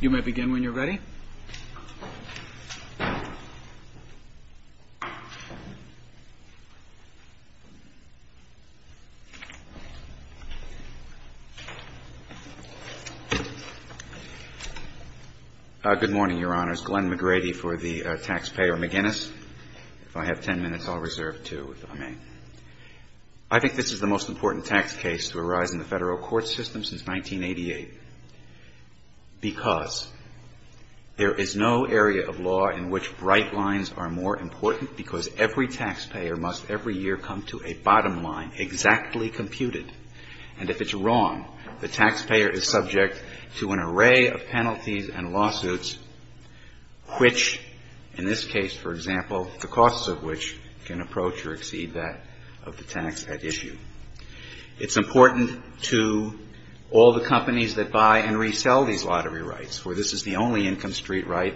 You may begin when you're ready. Good morning, Your Honors. Glenn McGrady for the Taxpayer McGinnis. If I have 10 minutes, I'll reserve two, if I may. I think this is the most important tax case to arise in the Federal court system since 1988, because there is no area of law in which bright lines are more important, because every taxpayer must every year come to a bottom line, exactly computed. And if it's wrong, the taxpayer is subject to an array of penalties and lawsuits which, in this case, for example, the costs of which can approach or exceed that of the tax at issue. It's important to all the companies that buy and resell these lottery rights, for this is the only income street right,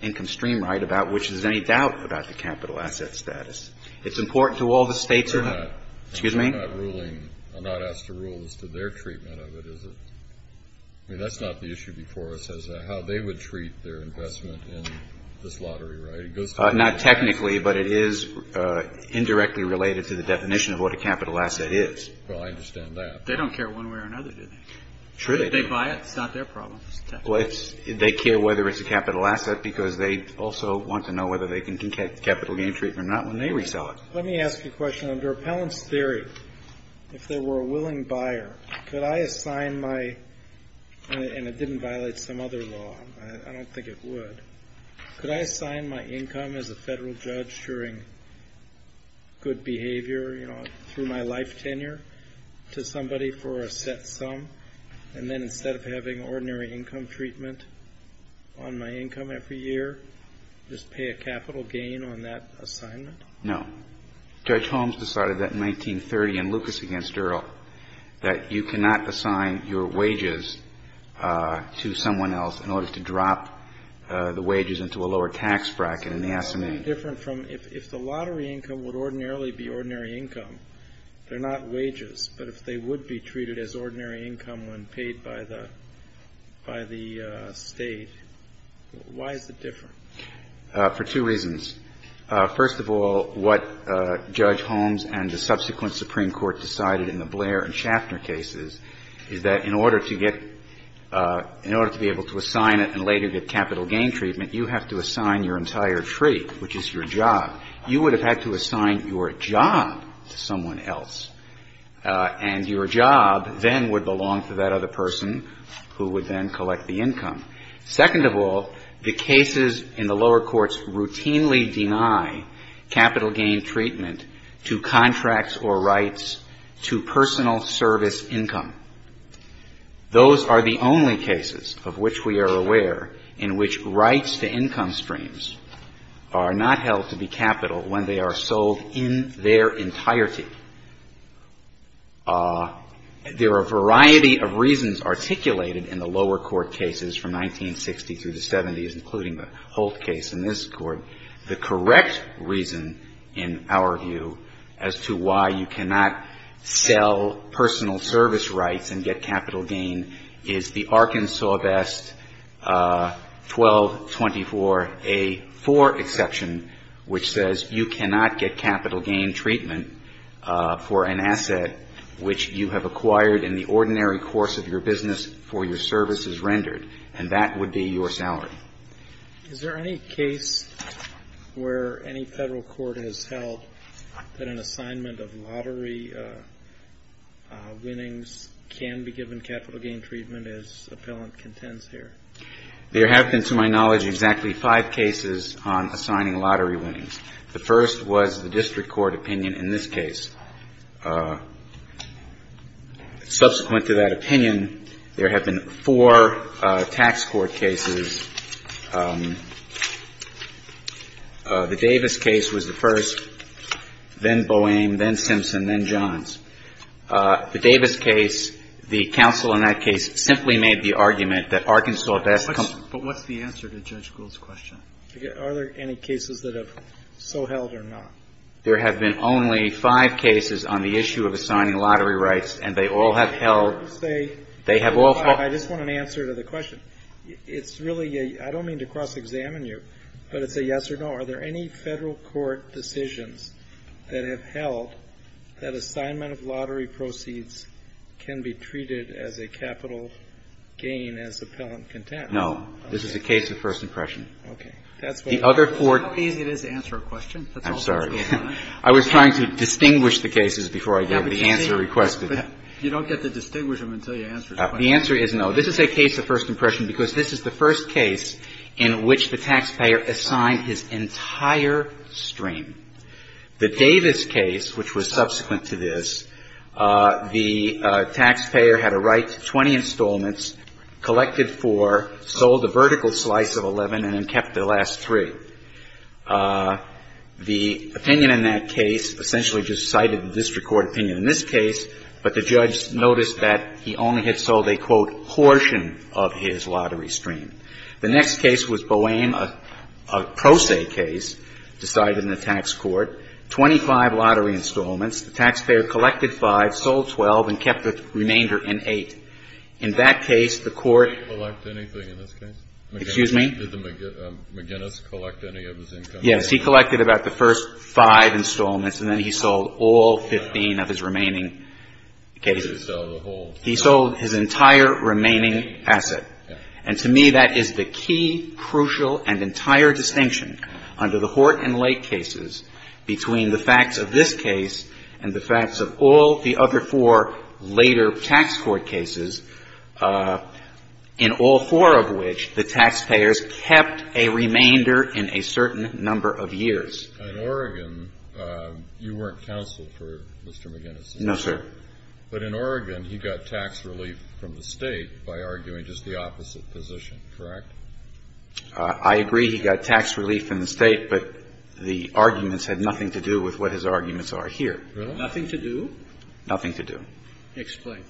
income stream right, about which there's any doubt about the capital asset status. It's important to all the states who are not. Excuse me? I'm not ruling, I'm not asked to rule as to their treatment of it, is it? I mean, that's not the issue before us as to how they would treat their investment in this lottery, right? It goes to the... It is. Well, I understand that. They don't care one way or another, do they? Sure they do. If they buy it, it's not their problem. Well, it's, they care whether it's a capital asset because they also want to know whether they can get capital gain treatment or not when they resell it. Let me ask you a question. Under appellant's theory, if they were a willing buyer, could I assign my, and it didn't violate some other law, I don't think it would, could I assign my income as a federal judge during good behavior, you know, through my life tenure to somebody for a set sum, and then instead of having ordinary income treatment on my income every year, just pay a capital gain on that assignment? No. Judge Holmes decided that in 1930 in Lucas against Earle, that you cannot assign your tax bracket in the assignment. Why is it different from, if the lottery income would ordinarily be ordinary income, they're not wages, but if they would be treated as ordinary income when paid by the, by the state, why is it different? For two reasons. First of all, what Judge Holmes and the subsequent Supreme Court decided in the Blair and Schaffner cases is that in order to get, in order to be able to assign it and later get capital gain treatment, you have to assign your entire treat, which is your job. You would have had to assign your job to someone else, and your job then would belong to that other person who would then collect the income. Second of all, the cases in the lower courts routinely deny capital gain treatment to contracts or rights to personal service income. Those are the only cases of which we are aware in which rights to income streams are not held to be capital when they are sold in their entirety. There are a variety of reasons articulated in the lower court cases from 1960 through the 70s, including the Holt case in this court. The correct reason, in our view, as to why you cannot sell personal service rights and get capital gain is the Arkansas Vest 1224A4 exception, which says you cannot get capital gain treatment for an asset which you have acquired in the ordinary course of your business for your services rendered, and that would be your salary. Is there any case where any federal court has held that an assignment of lottery winning can be given capital gain treatment as appellant contends here? There have been, to my knowledge, exactly five cases on assigning lottery winnings. The first was the district court opinion in this case. Subsequent to that opinion, there have been four tax court cases. The Davis case was the first, then Boehm, then Simpson, and then Johns. The Davis case, the counsel in that case simply made the argument that Arkansas Vest 1224A4 was an assignment of lottery winnings. But what's the answer to Judge Gould's question? Are there any cases that have so held or not? There have been only five cases on the issue of assigning lottery rights, and they all have held. I just want an answer to the question. I don't mean to cross-examine you, but it's a yes or no. Are there any federal court decisions that have held that assignment of lottery proceeds can be treated as a capital gain as appellant contends? No. This is a case of first impression. Okay. The other court ---- It's not easy to answer a question. I'm sorry. I was trying to distinguish the cases before I got the answer requested. You don't get to distinguish them until you answer the question. The answer is no. This is a case of first impression because this is the first case in which the taxpayer assigned his entire stream. The Davis case, which was subsequent to this, the taxpayer had a right to 20 installments, collected four, sold a vertical slice of 11, and then kept the last three. The opinion in that case essentially just cited the district court opinion in this case, but the judge noticed that he only had sold a, quote, portion of his lottery stream. The next case was Boehm, a pro se case decided in the tax court, 25 lottery installments, the taxpayer collected five, sold 12, and kept the remainder in eight. In that case, the court ---- Did he collect anything in this case? Excuse me? Did the McGinnis collect any of his income? Yes. He collected about the first five installments, and then he sold all 15 of his remaining cases. He sold the whole thing. He sold his entire remaining asset. And to me, that is the key, crucial, and entire distinction under the Hort and Lake cases between the facts of this case and the facts of all the other four later tax court cases, in all four of which the taxpayers kept a remainder in a certain number of years. In Oregon, you weren't counsel for Mr. McGinnis. No, sir. But in Oregon, he got tax relief from the State by arguing just the opposite position, correct? I agree he got tax relief from the State, but the arguments had nothing to do with what his arguments are here. Really? Nothing to do? Nothing to do. Explain.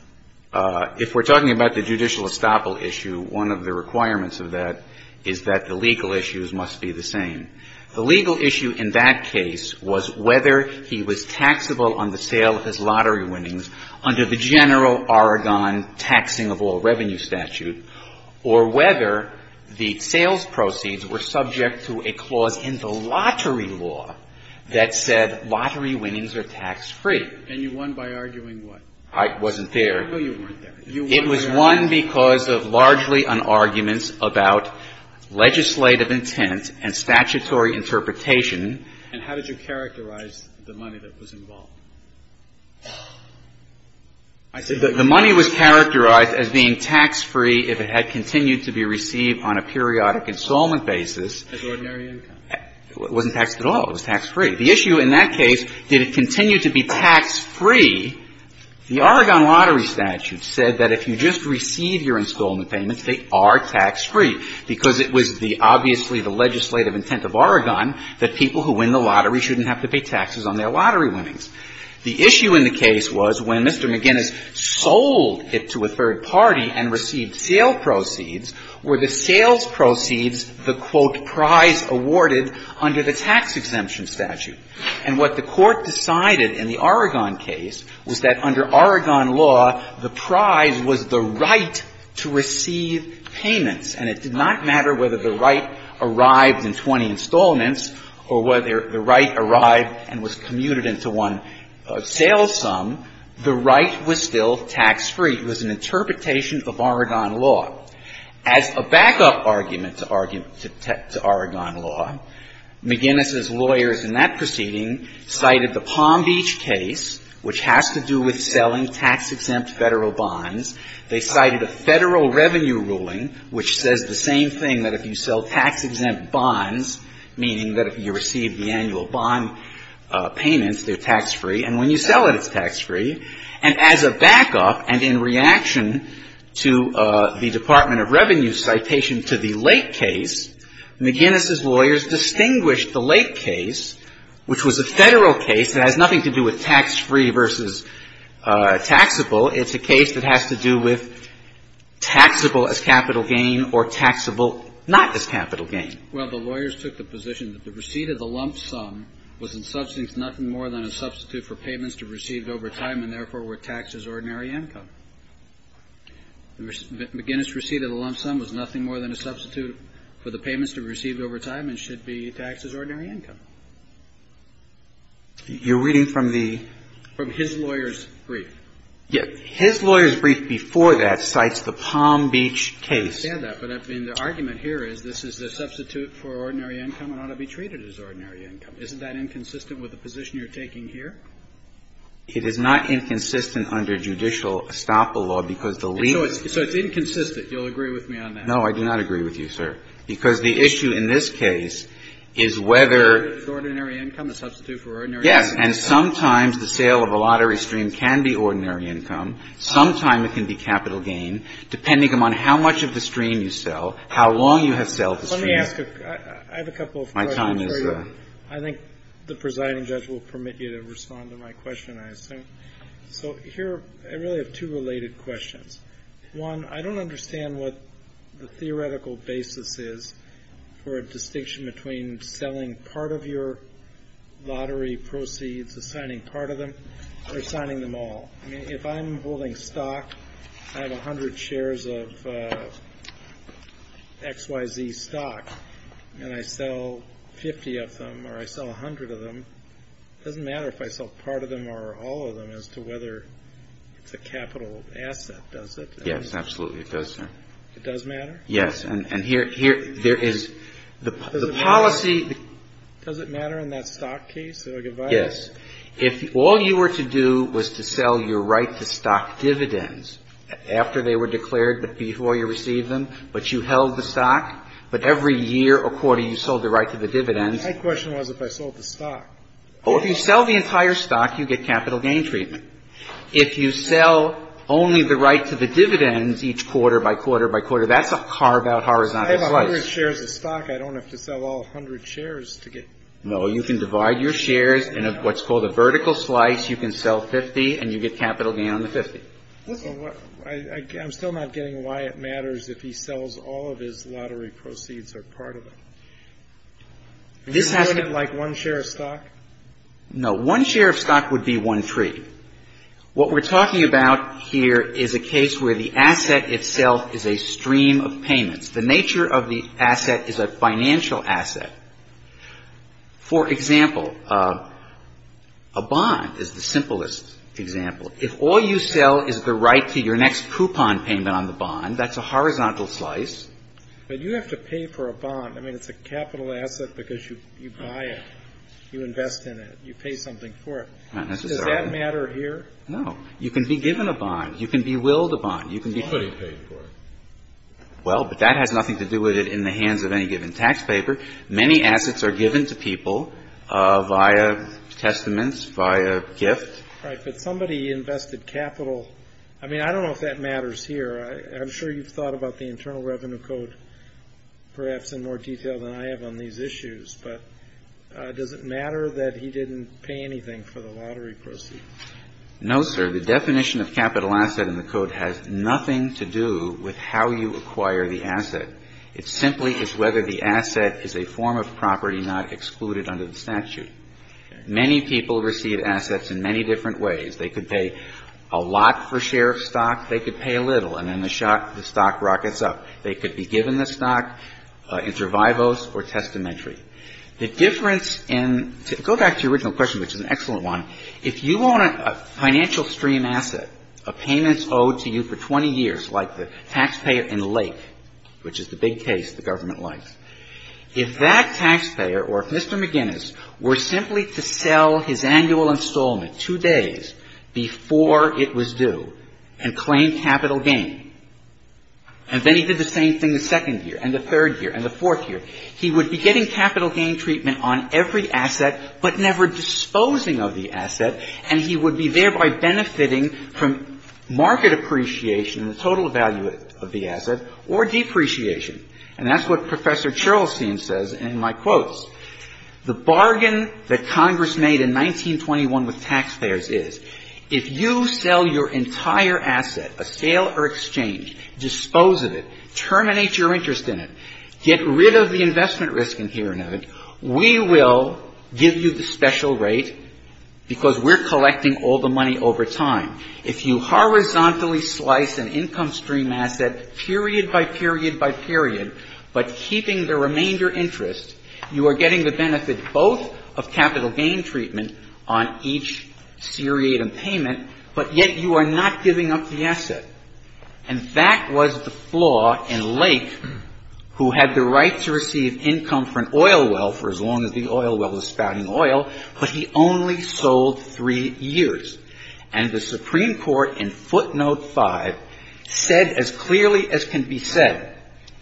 If we're talking about the judicial estoppel issue, one of the requirements of that is that the legal issues must be the same. The legal issue in that case was whether he was taxable on the sale of his lottery winnings under the general Oregon taxing of all revenue statute, or whether the sales proceeds were subject to a clause in the lottery law that said lottery winnings are tax-free. And you won by arguing what? I wasn't there. I know you weren't there. It was won because of largely an argument about legislative intent and statutory interpretation. And how did you characterize the money that was involved? I said the money was characterized as being tax-free if it had continued to be received on a periodic installment basis. As ordinary income. It wasn't taxed at all. It was tax-free. The issue in that case, did it continue to be tax-free? The Oregon lottery statute said that if you just receive your installment payments, they are tax-free, because it was the obviously the legislative intent of Oregon that people who win the lottery shouldn't have to pay taxes on their lottery winnings. The issue in the case was when Mr. McGinnis sold it to a third party and received sale proceeds, were the sales proceeds the, quote, prize awarded under the tax exemption statute. And what the Court decided in the Oregon case was that under Oregon law, the prize was the right to receive payments. And it did not matter whether the right arrived in 20 installments or whether the right arrived and was commuted into one sales sum, the right was still tax-free. It was an interpretation of Oregon law. As a backup argument to Oregon law, McGinnis' lawyers in that proceeding cited the Palm Beach case, which has to do with selling tax-exempt Federal bonds. They cited a Federal revenue ruling which says the same thing, that if you sell tax-exempt bonds, meaning that if you receive the annual bond payments, they're tax-free, and when you sell it, it's tax-free. And as a backup and in reaction to the Department of Revenue's citation to the late case, McGinnis' lawyers distinguished the late case, which was a Federal case that has nothing to do with tax-free versus taxable. It's a case that has to do with taxable as capital gain or taxable not as capital gain. Well, the lawyers took the position that the receipt of the lump sum was in substance nothing more than a substitute for payments to be received over time and, therefore, were taxed as ordinary income. McGinnis' receipt of the lump sum was nothing more than a substitute for the payments to be received over time and should be taxed as ordinary income. You're reading from the — From his lawyer's brief. His lawyer's brief before that cites the Palm Beach case. I understand that, but I mean, the argument here is this is a substitute for ordinary income and ought to be treated as ordinary income. Isn't that inconsistent with the position you're taking here? It is not inconsistent under judicial estoppel law, because the legal — So it's inconsistent. You'll agree with me on that. No, I do not agree with you, sir, because the issue in this case is whether — It's ordinary income, a substitute for ordinary income. Yes, and sometimes the sale of a lottery stream can be ordinary income. Sometimes it can be capital gain, depending upon how much of the stream you sell, how long you have sold the stream. Let me ask a — I have a couple of questions for you. My time is up. I think the presiding judge will permit you to respond to my question, I assume. So here I really have two related questions. One, I don't understand what the theoretical basis is for a distinction between selling part of your lottery proceeds, assigning part of them, or assigning them all. I mean, if I'm holding stock, I have 100 shares of XYZ stock, and I sell 50 of them, or I sell 100 of them, it doesn't matter if I sell part of them or all of them as to whether it's a capital asset, does it? Yes, absolutely, it does, sir. It does matter? Yes. And here — there is — the policy — Does it matter in that stock case if I can buy it? Yes. If all you were to do was to sell your right to stock dividends after they were declared before you received them, but you held the stock, but every year or quarter you sold the right to the dividends — My question was if I sold the stock. Well, if you sell the entire stock, you get capital gain treatment. If you sell only the right to the dividends each quarter by quarter by quarter, that's a carve-out horizontal slice. I have 100 shares of stock. I don't have to sell all 100 shares to get — No, you can divide your shares in what's called a vertical slice. You can sell 50, and you get capital gain on the 50. Listen, I'm still not getting why it matters if he sells all of his lottery proceeds or part of them. This has to — Isn't it like one share of stock? No. One share of stock would be one-three. What we're talking about here is a case where the asset itself is a stream of payments. The nature of the asset is a financial asset. For example, a bond is the simplest example. If all you sell is the right to your next coupon payment on the bond, that's a horizontal slice. But you have to pay for a bond. I mean, it's a capital asset because you buy it. You invest in it. You pay something for it. Not necessarily. Does that matter here? No. You can be given a bond. You can be willed a bond. You can be — Somebody paid for it. Well, but that has nothing to do with it in the hands of any given tax paper. Many assets are given to people via testaments, via gift. Right. But somebody invested capital — I mean, I don't know if that matters here. I'm sure you've thought about the Internal Revenue Code perhaps in more detail than I have on these issues. But does it matter that he didn't pay anything for the lottery proceeds? No, sir. The definition of capital asset in the code has nothing to do with how you acquire the asset. It simply is whether the asset is a form of property not excluded under the statute. Many people receive assets in many different ways. They could pay a lot for a share of stock. They could pay a little. And then the stock rockets up. They could be given the stock inter vivos or testamentary. The difference in — go back to your original question, which is an excellent one. If you want a financial stream asset, a payment owed to you for 20 years, like the taxpayer in Lake, which is the big case the government likes, if that taxpayer or if Mr. McGinnis were simply to sell his annual installment two days before it was due and claim capital gain, and then he did the same thing the second year and the same treatment on every asset, but never disposing of the asset, and he would be thereby benefiting from market appreciation, the total value of the asset, or depreciation. And that's what Professor Chorlestein says in my quotes. The bargain that Congress made in 1921 with taxpayers is, if you sell your entire asset, a sale or exchange, dispose of it, terminate your interest in it, get rid of the investment risk inherent of it, we will give you the special rate, because we're collecting all the money over time. If you horizontally slice an income stream asset period by period by period, but keeping the remainder interest, you are getting the benefit both of capital gain treatment on each seriatim payment, but yet you are not giving up the asset. And that was the flaw in Lake, who had the right to receive income from an oil well for as long as the oil well was spouting oil, but he only sold three years. And the Supreme Court in footnote five said as clearly as can be said,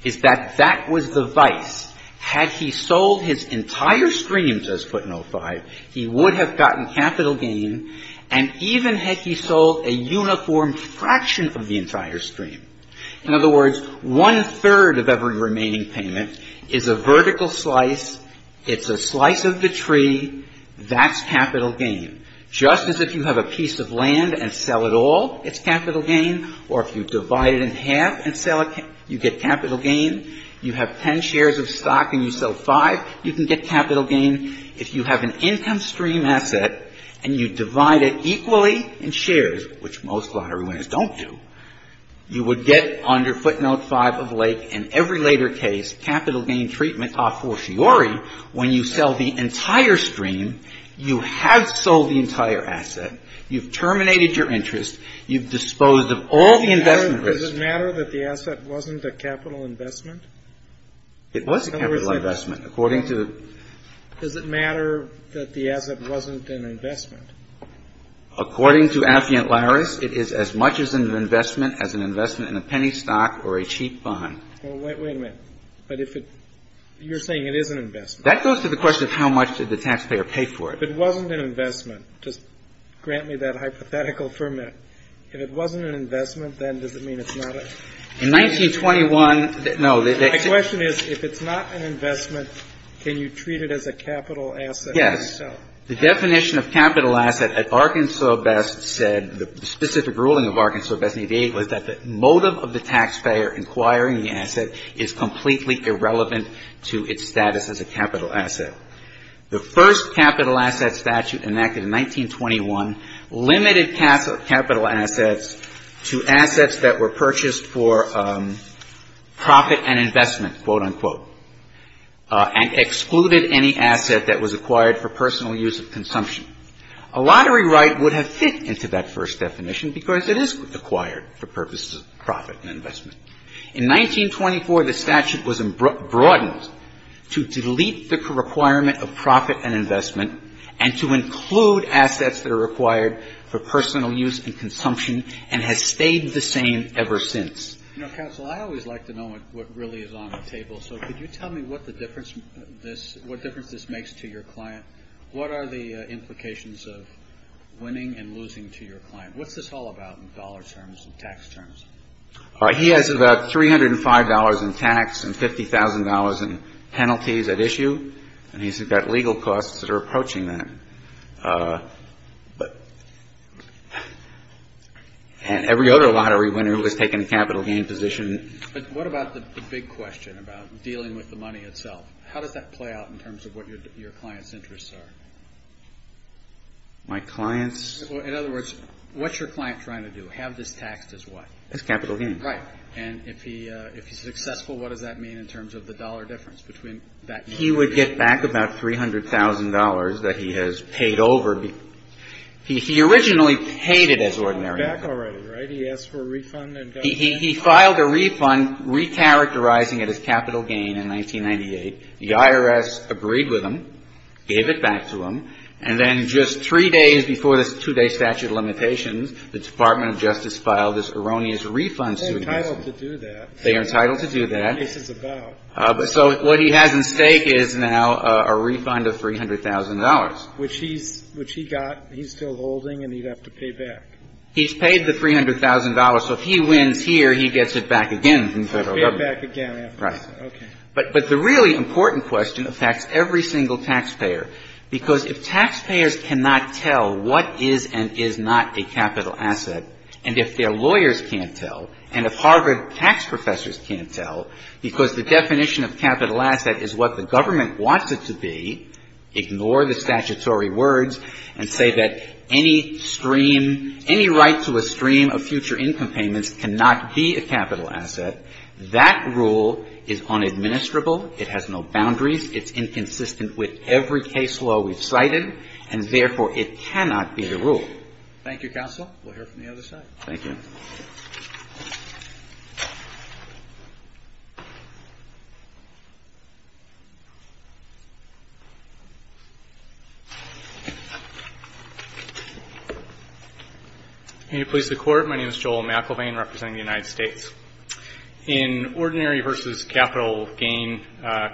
is that that was the vice. Had he sold his entire streams as footnote five, he would have gotten capital gain, and even had he sold a uniform fraction of the entire stream. In other words, one third of every remaining payment is a vertical slice, it's a slice of the tree, that's capital gain. Just as if you have a piece of land and sell it all, it's capital gain, or if you divide it in half and sell it, you get capital gain. You have ten shares of stock and you sell five, you can get capital gain. If you have an income stream asset and you divide it equally in shares, which most lottery winners don't do, you would get under footnote five of Lake, in every later case, capital gain treatment a fortiori when you sell the entire stream, you have sold the entire asset, you've terminated your interest, you've disposed of all the investment risk. But does it matter that the asset wasn't a capital investment? It was a capital investment. According to the Is it matter that the asset wasn't an investment? According to Affiant-Larris, it is as much an investment as an investment in a penny stock or a cheap bond. Well, wait a minute. But if it You're saying it is an investment. That goes to the question of how much did the taxpayer pay for it. If it wasn't an investment, just grant me that hypothetical for a minute. If it wasn't an investment, then does it mean it's not a In 1921, no. The question is, if it's not an investment, can you treat it as a capital asset when you sell it? Yes. The definition of capital asset at Arkansas Best said, the specific ruling of Arkansas Best v. Daigle is that the motive of the taxpayer inquiring the asset is completely irrelevant to its status as a capital asset. The first capital asset statute enacted in 1921 limited capital assets to assets that were purchased for profit and investment, quote, unquote, and excluded any asset that was acquired for personal use of consumption. A lottery right would have fit into that first definition because it is acquired for purposes of profit and investment. In 1924, the statute was broadened to delete the requirement of profit and investment and to include assets that are acquired for personal use and consumption and has stayed the same ever since. You know, counsel, I always like to know what really is on the table. So could you tell me what the difference this makes to your client? What are the implications of winning and losing to your client? What's this all about in dollar terms and tax terms? He has about $305 in tax and $50,000 in penalties at issue. And he's got legal costs that are approaching that. And every other lottery winner who has taken a capital gain position. But what about the big question about dealing with the money itself? How does that play out in terms of what your client's interests are? My client's? In other words, what's your client trying to do? Have this taxed as what? As capital gain. Right. And if he's successful, what does that mean in terms of the dollar difference between that? He would get back about $300,000 that he has paid over. He originally paid it as ordinary. He got it back already, right? He asked for a refund and got it back? He filed a refund recharacterizing it as capital gain in 1998. The IRS agreed with him, gave it back to him. And then just three days before this two-day statute of limitations, the Department of Justice filed this erroneous refund suit. They're entitled to do that. They are entitled to do that. This is about. So what he has at stake is now a refund of $300,000. Which he got. He's still holding. And he'd have to pay back. He's paid the $300,000. So if he wins here, he gets it back again from Federal government. He has to pay it back again after this. Right. Okay. But the really important question affects every single taxpayer. Because if taxpayers cannot tell what is and is not a capital asset. And if their lawyers can't tell. And if Harvard tax professors can't tell. Because the definition of capital asset is what the government wants it to be. Ignore the statutory words. And say that any stream. Any right to a stream of future income payments cannot be a capital asset. That rule is unadministrable. It has no boundaries. It's inconsistent with every case law we've cited. And therefore, it cannot be the rule. Thank you, counsel. We'll hear from the other side. Thank you. Can you please the court? My name is Joel McElvain representing the United States. In ordinary versus capital gain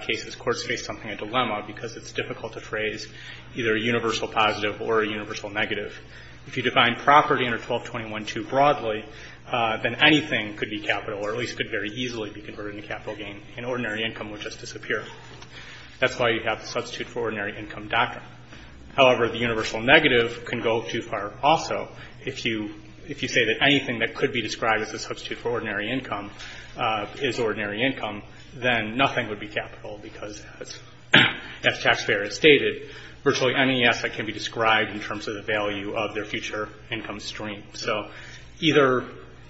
cases, courts face something of a dilemma. Because it's difficult to phrase either a universal positive or a universal negative. If you define property under 1221-2 broadly. Then anything could be capital. Or at least could very easily be converted into capital gain. And ordinary income would just disappear. That's why you have the substitute for ordinary income doctrine. However, the universal negative can go too far also. If you say that anything that could be described as a substitute for ordinary income is ordinary income, then nothing would be capital. Because as taxpayer has stated, virtually any asset can be described in terms of the value of their future income stream. So either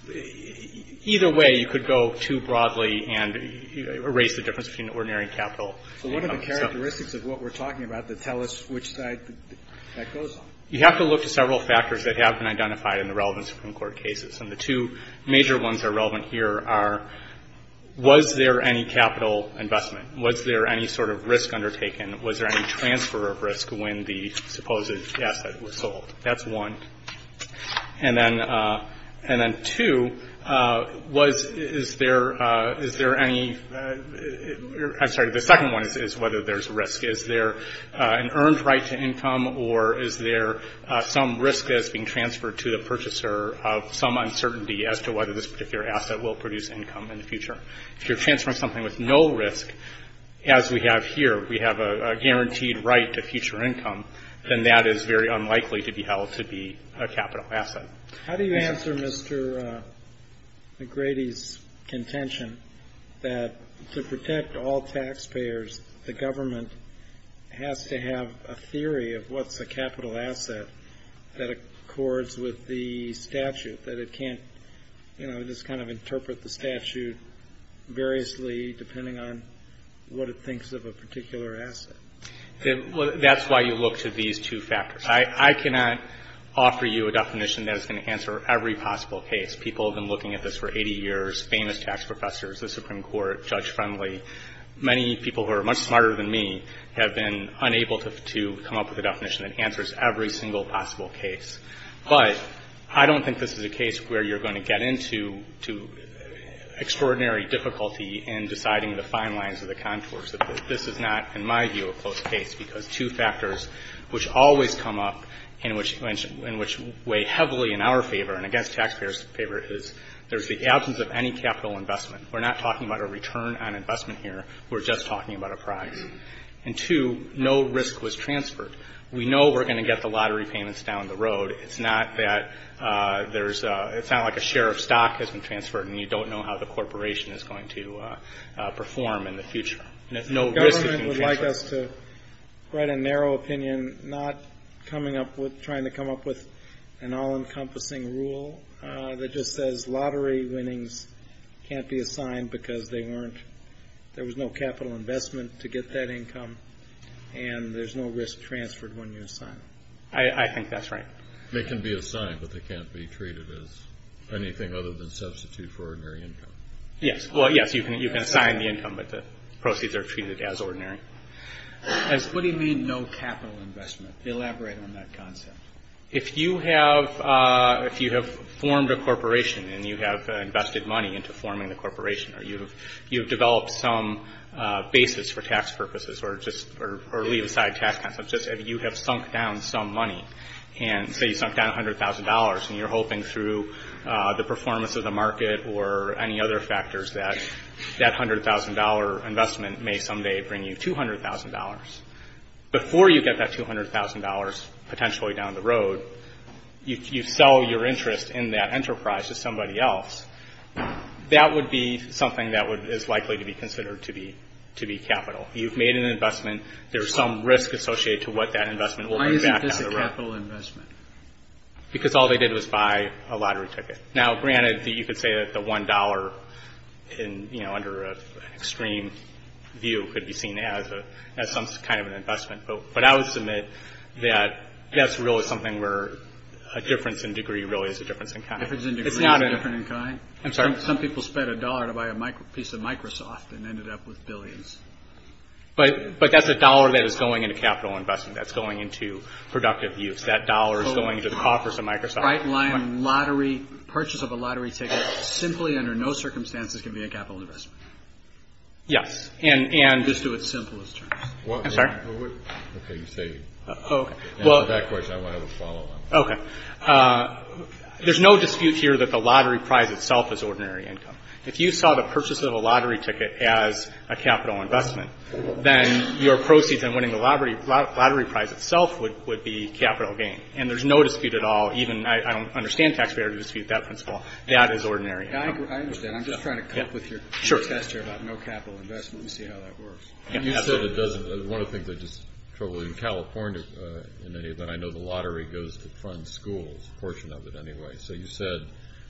way, you could go too broadly and erase the difference between ordinary and capital. So what are the characteristics of what we're talking about that tell us which side that goes on? You have to look to several factors that have been identified in the relevant Supreme Court cases. And the two major ones that are relevant here are, was there any capital investment? Was there any sort of risk undertaken? Was there any transfer of risk when the supposed asset was sold? That's one. And then two, is there any, I'm sorry, the second one is whether there's risk. Is there an earned right to income? Or is there some risk that's being transferred to the purchaser of some uncertainty as to whether this particular asset will produce income in the future? If you're transferring something with no risk, as we have here, we have a guaranteed right to future income, then that is very unlikely to be held to be a capital asset. How do you answer Mr. McGrady's contention that to protect all taxpayers, the government has to have a theory of what's a capital asset that accords with the statute, that it can't, you know, just kind of interpret the statute variously depending on what it thinks of a particular asset? That's why you look to these two factors. I cannot offer you a definition that is going to answer every possible case. People have been looking at this for 80 years, famous tax professors, the Supreme Court, Judge Friendly. Many people who are much smarter than me have been unable to come up with a definition that answers every single possible case. But I don't think this is a case where you're going to get into extraordinary difficulty in deciding the fine lines or the contours of it. This is not, in my view, a close case because two factors which always come up and which weigh heavily in our favor and against taxpayers' favor is there's the absence of any capital investment. We're not talking about a return on investment here. We're just talking about a price. And two, no risk was transferred. We know we're going to get the lottery payments down the road. It's not that there's a, it's not like a share of stock has been transferred and you don't know how the corporation is going to perform in the future. And there's no risk. The government would like us to write a narrow opinion, not coming up with, trying to come up with an all-encompassing rule that just says lottery winnings can't be assigned because they weren't, there was no capital investment to get that income. And there's no risk transferred when you're assigned. I think that's right. They can be assigned, but they can't be treated as anything other than substitute for ordinary income. Yes. Well, yes, you can assign the income, but the proceeds are treated as ordinary. What do you mean no capital investment? Elaborate on that concept. If you have formed a corporation and you have invested money into forming the corporation or you have developed some basis for tax purposes or just, or leave aside tax concepts, just if you have sunk down some money and say you sunk down $100,000 and you're hoping through the performance of the market or any other factors that that $100,000 investment may someday bring you $200,000, before you get that $200,000 potentially down the road, you sell your interest in that enterprise to somebody else, that would be something that is likely to be considered to be capital. You've made an investment. There's some risk associated to what that investment will bring back down the road. Why isn't this a capital investment? Because all they did was buy a lottery ticket. Now, granted, you could say that the $1 under an extreme view could be seen as some kind of an investment, but I would submit that that's really something where a difference in degree really is a difference in kind. A difference in degree is a difference in kind? I'm sorry? Some people spent a dollar to buy a piece of Microsoft and ended up with billions. But that's a dollar that is going into capital investment. That's going into productive use. That dollar is going into the coffers of Microsoft. Right-line lottery, purchase of a lottery ticket simply under no circumstances can be a capital investment. Yes. And, and... Just do it simple as terms. I'm sorry? Okay, you say it. Oh, okay. Well... And for that question, I want to have a follow-on. Okay. There's no dispute here that the lottery prize itself is ordinary income. If you saw the purchase of a lottery ticket as a capital investment, then your proceeds in winning the lottery prize itself would be capital gain. And there's no dispute at all. Even, I don't understand taxpayer dispute that principle. That is ordinary income. I understand. I'm just trying to come up with your test here about no capital investment. Let me see how that works. You said it doesn't. One of the things I just trouble you, in California, in any event, I know the lottery goes to fund schools, a portion of it anyway. So you said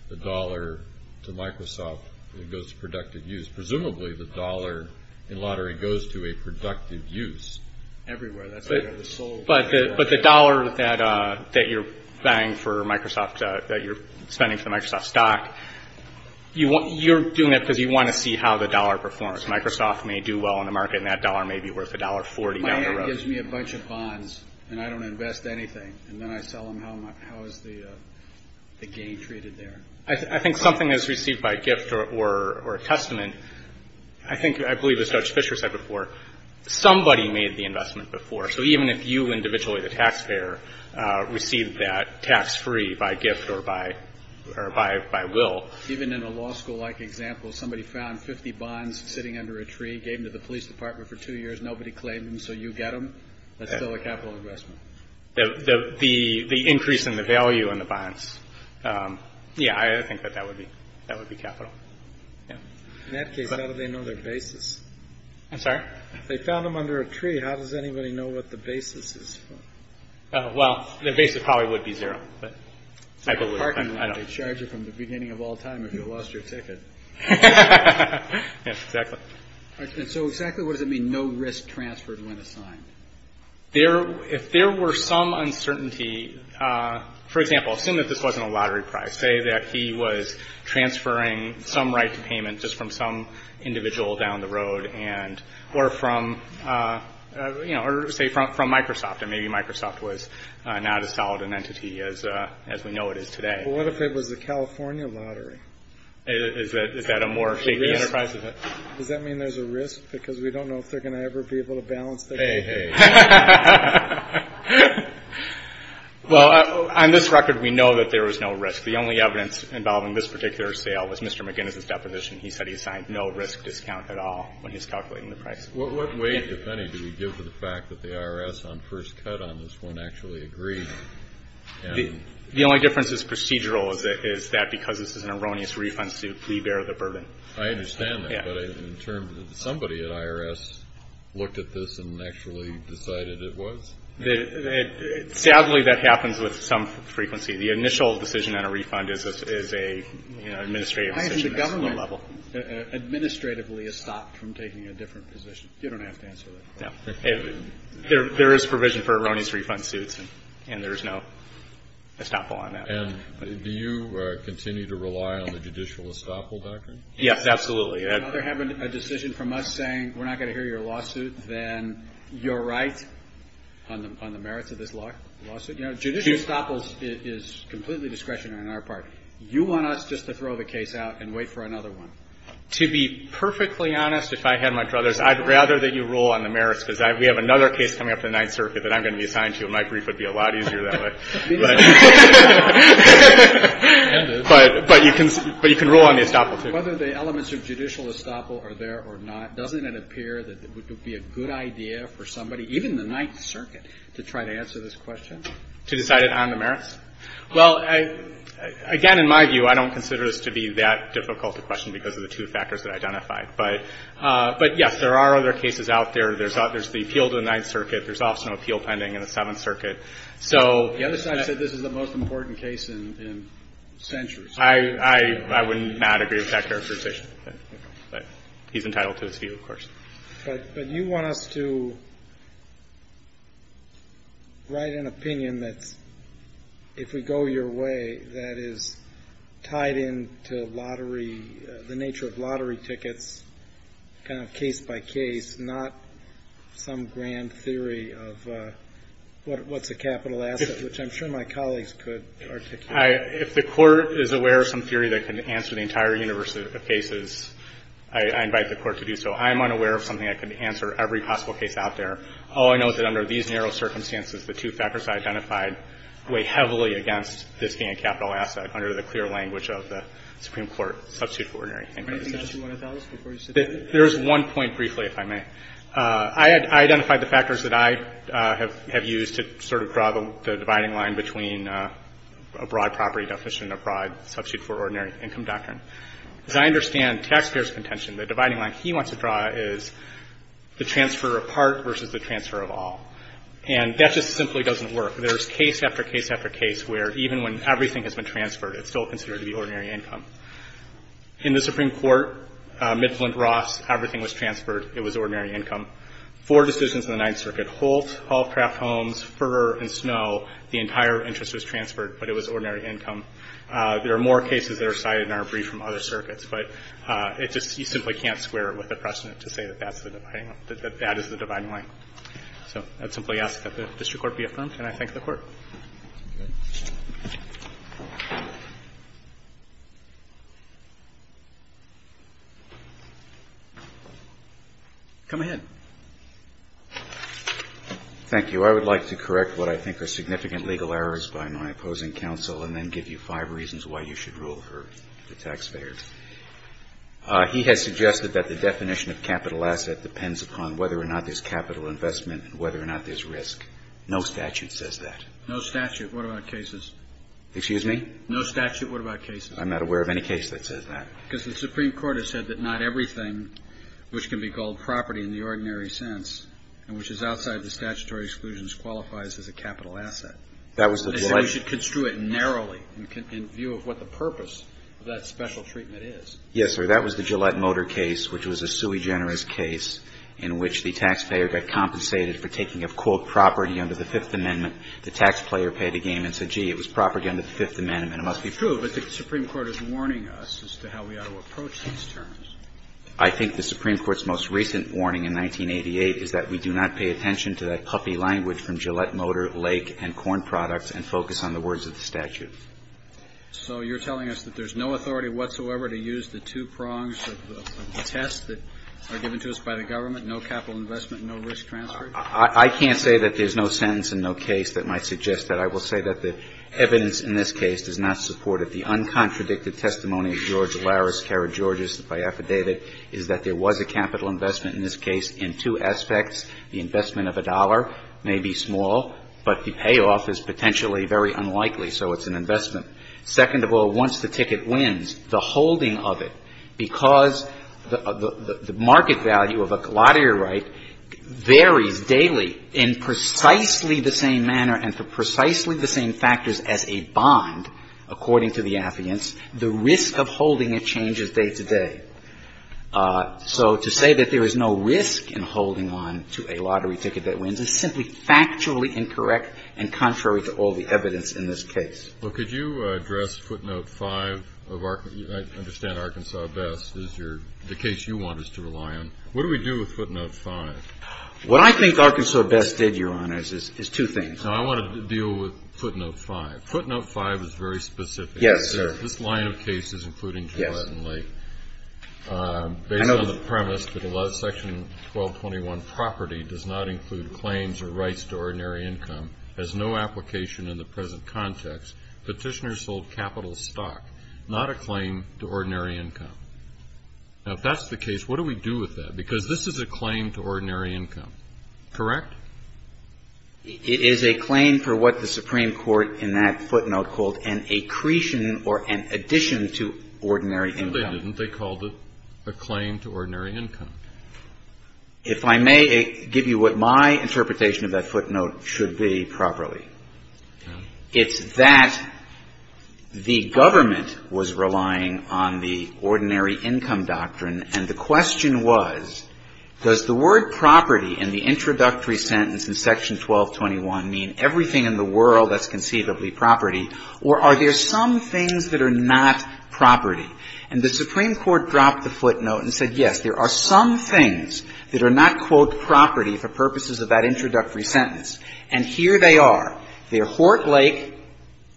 the dollar to Microsoft, it goes to productive use. Presumably, the dollar in lottery goes to a productive use. Everywhere. But the dollar that you're buying for Microsoft, that you're spending for Microsoft stock, you're doing it because you want to see how the dollar performs. Microsoft may do well in the market, and that dollar may be worth $1.40 down the road. My aunt gives me a bunch of bonds, and I don't invest anything. And then I sell them. How is the gain treated there? I think something that's received by gift or a testament, I think, I believe, as Judge Fisher said before, somebody made the investment before. So even if you individually, the taxpayer, received that tax-free by gift or by will. Even in a law school-like example, somebody found 50 bonds sitting under a tree, gave them to the police department for two years, nobody claimed them, so you get them? That's still a capital investment. The increase in the value in the bonds. Yeah, I think that that would be capital. In that case, how do they know their basis? I'm sorry? They found them under a tree. How does anybody know what the basis is? Well, their basis probably would be zero. It's like a parking lot. They charge you from the beginning of all time if you lost your ticket. Yes, exactly. And so exactly what does it mean, no risk transferred when assigned? There, if there were some uncertainty, for example, assume that this wasn't a lottery prize, say that he was transferring some right to payment just from some individual down the road and, or from, you know, or say from Microsoft, and maybe Microsoft was not as solid an entity as we know it is today. Well, what if it was the California lottery? Is that a more shaky enterprise? Does that mean there's a risk? Because we don't know if they're going to ever be able to balance that. Well, on this record, we know that there was no risk. The only evidence involving this particular sale was Mr. McGinnis' deposition. He said he assigned no risk discount at all when he's calculating the price. What weight, if any, do we give to the fact that the IRS on first cut on this one actually agreed? The only difference is procedural is that because this is an erroneous refund suit, we bear the burden. I understand that, but in terms of somebody at IRS looked at this and actually decided it was? Sadly, that happens with some frequency. The initial decision on a refund is a, you know, administrative decision. At the government level, administratively, it's stopped from taking a different position. You don't have to answer that. There is provision for erroneous refund suits, and there's no estoppel on that. And do you continue to rely on the judicial estoppel doctrine? Yes, absolutely. If you're having a decision from us saying we're not going to hear your lawsuit, then you're right on the merits of this lawsuit. You know, judicial estoppels is completely discretionary on our part. You want us just to throw the case out and wait for another one. To be perfectly honest, if I had my druthers, I'd rather that you rule on the merits because we have another case coming up in the Ninth Circuit that I'm going to be assigned to, and my brief would be a lot easier that way. But you can rule on the estoppel, too. Whether the elements of judicial estoppel are there or not, doesn't it appear that it would be a good idea for somebody, even the Ninth Circuit, to try to answer this question? To decide it on the merits? Well, again, in my view, I don't consider this to be that difficult a question because of the two factors that I identified. But yes, there are other cases out there. There's the appeal to the Ninth Circuit. There's also an appeal pending in the Seventh Circuit. The other side said this is the most important case in centuries. I would not agree with that characterization. But he's entitled to his view, of course. But you want us to write an opinion that's, if we go your way, that is tied into lottery, the nature of lottery tickets, kind of case by case, not some grand theory of what's a capital asset, which I'm sure my colleagues could articulate. If the Court is aware of some theory that can answer the entire universe of cases, I invite the Court to do so. I am unaware of something that can answer every possible case out there. All I know is that under these narrow circumstances, the two factors I identified weigh heavily against this being a capital asset under the clear language of the Supreme Court substitute ordinary inquiry. Can I ask you one of those before you sit there? There's one point, briefly, if I may. I identified the factors that I have used to sort of draw the dividing line between a broad property definition and a broad substitute for ordinary income doctrine. As I understand taxpayers' contention, the dividing line he wants to draw is the transfer of part versus the transfer of all. And that just simply doesn't work. There's case after case after case where even when everything has been transferred, it's still considered to be ordinary income. In the Supreme Court, Midflint-Ross, everything was transferred. It was ordinary income. Four decisions in the Ninth Circuit, Holt, Hallcraft Homes, Fur and Snow, the entire interest was transferred, but it was ordinary income. There are more cases that are cited in our brief from other circuits, but it just, you simply can't square it with the precedent to say that that's the dividing line, that that is the dividing line. So I'd simply ask that the District Court be affirmed, and I thank the Court. Come ahead. Thank you. I would like to correct what I think are significant legal errors by my opposing counsel and then give you five reasons why you should rule for the taxpayer. He has suggested that the definition of capital asset depends upon whether or not there's capital investment and whether or not there's risk. No statute says that. No statute? What about cases? Excuse me? No statute? What about cases? I'm not aware of any case that says that. Because the Supreme Court has said that not everything which can be called property in the ordinary sense and which is outside of the statutory exclusions qualifies as a capital asset. That was the Gillette case. They said we should construe it narrowly in view of what the purpose of that special treatment is. Yes, sir. That was the Gillette-Motor case, which was a sui generis case in which the taxpayer got compensated for taking up, quote, property under the Fifth Amendment. The taxpayer paid a gain and said, gee, it was property under the Fifth Amendment. It must be true, but the Supreme Court is warning us as to how we ought to approach these terms. I think the Supreme Court's most recent warning in 1988 is that we do not pay attention to that puffy language from Gillette-Motor, Lake, and Corn Products and focus on the words of the statute. So you're telling us that there's no authority whatsoever to use the two prongs of the test that are given to us by the government, no capital investment, no risk transfer? I can't say that there's no sentence and no case that might suggest that. I will say that the evidence in this case does not support it. The uncontradicted testimony of George Larris, Kara Georges, if I affidavit, is that there was a capital investment in this case in two aspects. The investment of a dollar may be small, but the payoff is potentially very unlikely, so it's an investment. Second of all, once the ticket wins, the holding of it, because the market value of a lottery right varies daily in precisely the same manner and for precisely the same factors as a bond, according to the affidavits, the risk of holding it changes day to day. So to say that there is no risk in holding on to a lottery ticket that wins is simply factually incorrect and contrary to all the evidence in this case. Well, could you address footnote 5 of Arkansas? I understand Arkansas Best is your – the case you want us to rely on. What do we do with footnote 5? What I think Arkansas Best did, Your Honors, is two things. I want to deal with footnote 5. Footnote 5 is very specific. Yes, sir. This line of cases, including Kilpatrick and Lake, based on the premise that section 1221 property does not include claims or rights to ordinary income, has no application in the present context. Petitioners hold capital stock, not a claim to ordinary income. Now, if that's the case, what do we do with that? Because this is a claim to ordinary income, correct? It is a claim for what the Supreme Court in that footnote called an accretion or an addition to ordinary income. No, they didn't. They called it a claim to ordinary income. If I may give you what my interpretation of that footnote should be properly, it's that the government was relying on the ordinary income doctrine, and the question was, does the word property in the introductory sentence in section 1221 mean everything in the world that's conceivably property, or are there some things that are not property? And the Supreme Court dropped the footnote and said, yes, there are some things that are not, quote, property for purposes of that introductory sentence. And here they are. They're Hort Lake,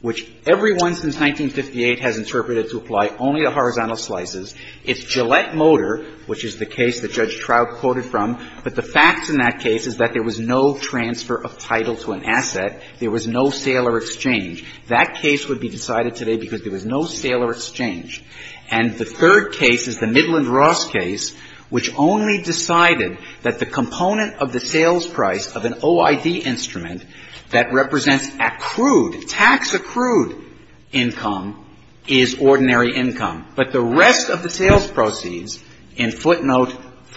which everyone since 1958 has interpreted to apply only to horizontal slices. It's Gillette Motor, which is the case that Judge Trout quoted from, but the facts in that case is that there was no transfer of title to an asset. There was no sale or exchange. That case would be decided today because there was no sale or exchange. And the third case is the Midland Ross case, which only decided that the component of the sales price of an OID instrument that represents accrued, tax-accrued income is ordinary income. But the rest of the sales proceeds in footnote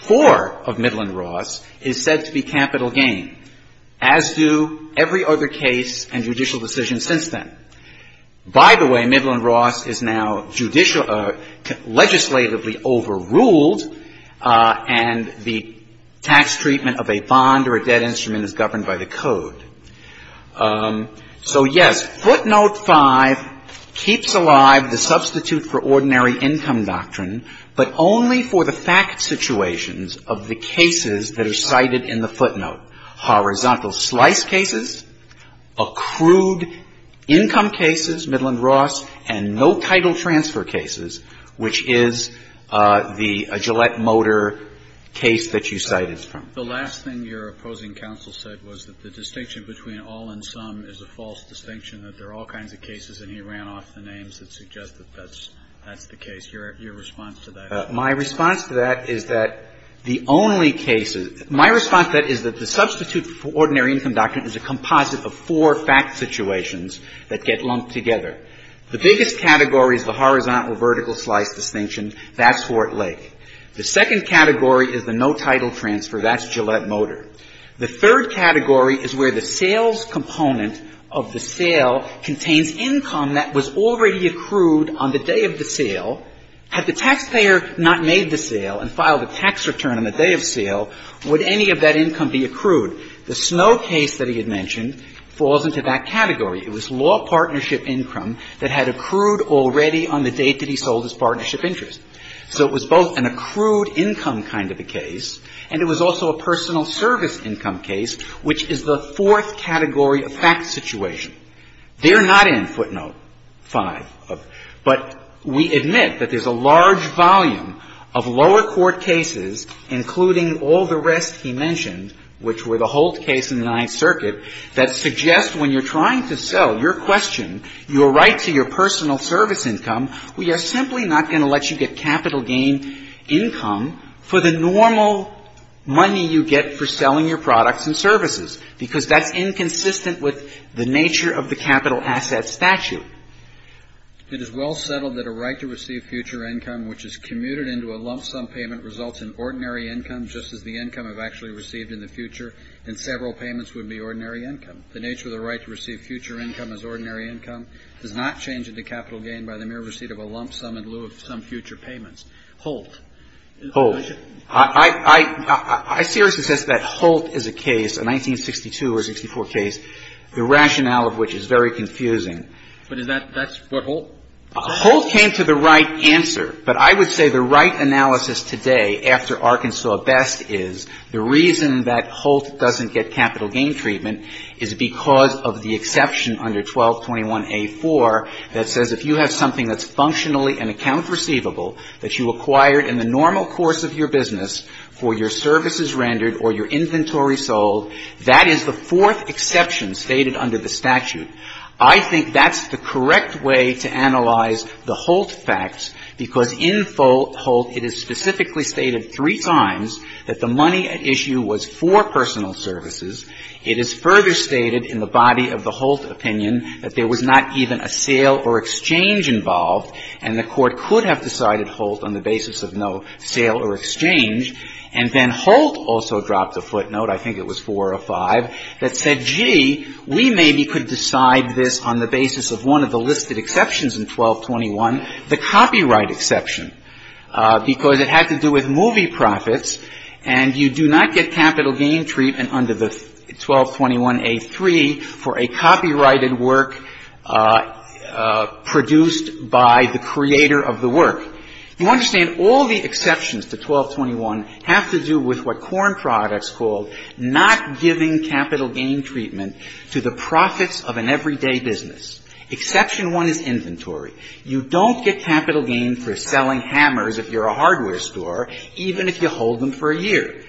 4 of Midland Ross is said to be capital gain, as do every other case and judicial decision since then. By the way, Midland Ross is now judicial or legislatively overruled, and the tax treatment of a bond or a debt instrument is governed by the Code. So, yes, footnote 5 keeps alive the substitute for ordinary income doctrine, but only for the fact situations of the cases that are cited in the footnote, horizontal slice cases, accrued income cases, Midland Ross, and no title transfer cases, which is the Gillette Motor case that you cited. The last thing your opposing counsel said was that the distinction between all and some is a false distinction, that there are all kinds of cases, and he ran off the names that suggest that that's the case. Your response to that? My response to that is that the only cases — my response to that is that the substitute for ordinary income doctrine is a composite of four fact situations that get lumped together. The biggest category is the horizontal vertical slice distinction. That's Fort Lake. The second category is the no title transfer. That's Gillette Motor. The third category is where the sales component of the sale contains income that was already accrued on the day of the sale. Had the taxpayer not made the sale and filed a tax return on the day of sale, would any of that income be accrued? The Snow case that he had mentioned falls into that category. It was law partnership income that had accrued already on the date that he sold his partnership interest. So it was both an accrued income kind of a case, and it was also a personal service income case, which is the fourth category of fact situation. They're not in footnote 5, but we admit that there's a large volume of lower court cases, including all the rest he mentioned, which were the Holt case in the Ninth Circuit, that suggest when you're trying to sell your question, your right to your capital gain income for the normal money you get for selling your products and services, because that's inconsistent with the nature of the capital assets statute. It is well settled that a right to receive future income which is commuted into a lump sum payment results in ordinary income, just as the income I've actually received in the future in several payments would be ordinary income. The nature of the right to receive future income as ordinary income does not change into capital gain by the mere receipt of a lump sum in lieu of some future payments. Holt. Holt. I seriously suspect that Holt is a case, a 1962 or 64 case, the rationale of which is very confusing. But is that what Holt? Holt came to the right answer. But I would say the right analysis today after Arkansas Best is the reason that Holt doesn't get capital gain treatment is because of the exception under 1221A4 that says if you have something that's functionally an account receivable that you acquired in the normal course of your business for your services rendered or your inventory sold, that is the fourth exception stated under the statute. I think that's the correct way to analyze the Holt facts, because in Holt it is specifically stated three times that the money at issue was for personal services. It is further stated in the body of the Holt opinion that there was not even a sale or exchange involved, and the Court could have decided Holt on the basis of no sale or exchange. And then Holt also dropped a footnote, I think it was 405, that said, gee, we maybe could decide this on the basis of one of the listed exceptions in 1221, the copyright exception, because it had to do with movie profits, and you do not get capital gain treatment under the 1221A3 for a copyrighted work produced by the creator of the work. You understand all the exceptions to 1221 have to do with what Korn Products called not giving capital gain treatment to the profits of an everyday business. Exception one is inventory. You don't get capital gain for selling hammers if you're a hardware store, even if you hold them for a year.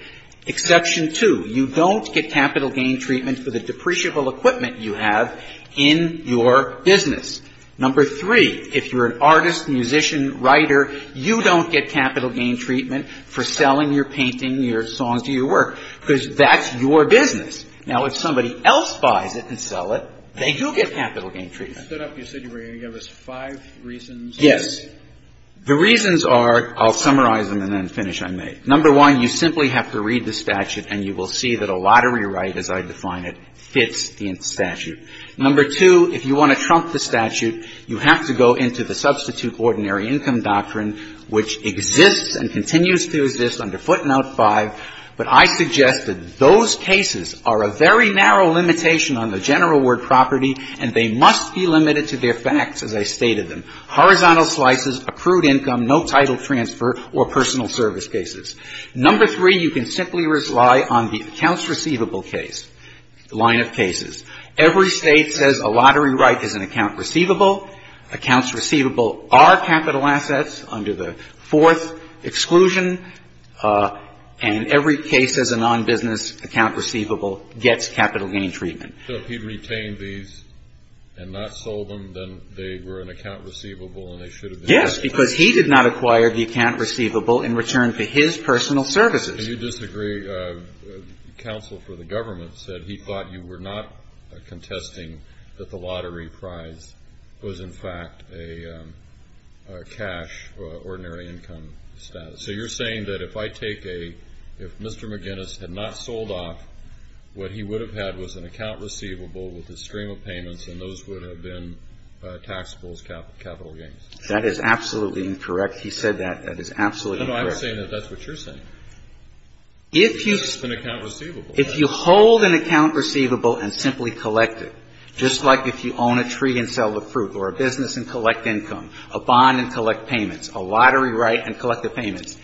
Exception two, you don't get capital gain treatment for the depreciable equipment you have in your business. Number three, if you're an artist, musician, writer, you don't get capital gain treatment for selling your painting, your songs, or your work, because that's your business. Now, if somebody else buys it and sells it, they do get capital gain treatment. I thought after you said you were going to give us five reasons. Yes. The reasons are, I'll summarize them and then finish, I may. Number one, you simply have to read the statute, and you will see that a lottery right, as I define it, fits the statute. Number two, if you want to trump the statute, you have to go into the substitute ordinary income doctrine, which exists and continues to exist under footnote 5. But I suggest that those cases are a very narrow limitation on the general word property, and they must be limited to their facts, as I stated them. Horizontal slices, accrued income, no title transfer, or personal service cases. Number three, you can simply rely on the accounts receivable case, line of cases. Every state says a lottery right is an account receivable. Accounts receivable are capital assets under the fourth exclusion, and every case as a non-business account receivable gets capital gain treatment. So if he retained these and not sold them, then they were an account receivable and they should have been? Yes, because he did not acquire the account receivable in return for his personal services. You disagree. Counsel for the government said he thought you were not contesting that the lottery prize was, in fact, a cash ordinary income status. So you're saying that if I take a, if Mr. McGinnis had not sold off, what he would have had was an account receivable with a stream of payments, and those would have been taxable as capital gains? That is absolutely incorrect. He said that. That is absolutely incorrect. No, no, I'm saying that that's what you're saying. If you hold an account receivable and simply collect it, just like if you own a tree and sell the fruit, or a business and collect income, a bond and collect payments, a lottery right and collect the payments,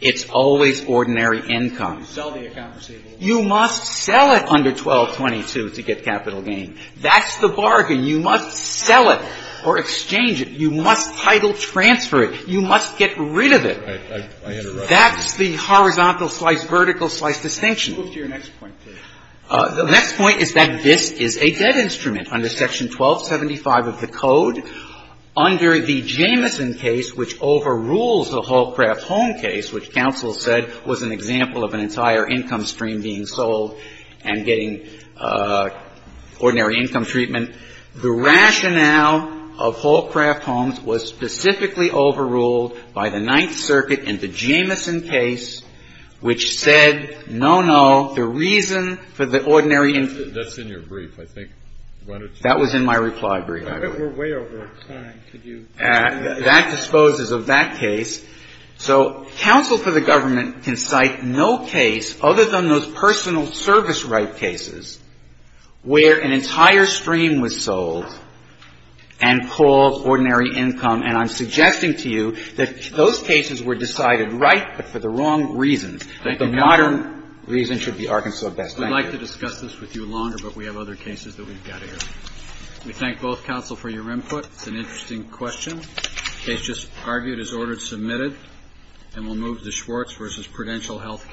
it's always ordinary income. Sell the account receivable. You must sell it under 1222 to get capital gain. That's the bargain. You must sell it or exchange it. You must title transfer it. You must get rid of it. I understand. That's the horizontal slice, vertical slice distinction. Let's move to your next point, please. The next point is that this is a debt instrument under Section 1275 of the Code. Under the Jameson case, which overrules the Hallcraft-Holm case, which counsel said was an example of an entire income stream being sold and getting ordinary income treatment, the rationale of Hallcraft-Holm was specifically overruled by the Ninth Circuit in the Jameson case, which said, no, no, the reason for the ordinary income. That's in your brief, I think. That was in my reply brief. We're way over time. Could you? That disposes of that case. So counsel for the government can cite no case other than those personal service right cases where an entire stream was sold and called ordinary income, and I'm suggesting to you that those cases were decided right but for the wrong reasons. The modern reason should be Arkansas Best. Thank you. We'd like to discuss this with you longer, but we have other cases that we've got here. We thank both counsel for your input. It's an interesting question. The case just argued is ordered submitted, and we'll move to Schwartz v. Prudential Health Care.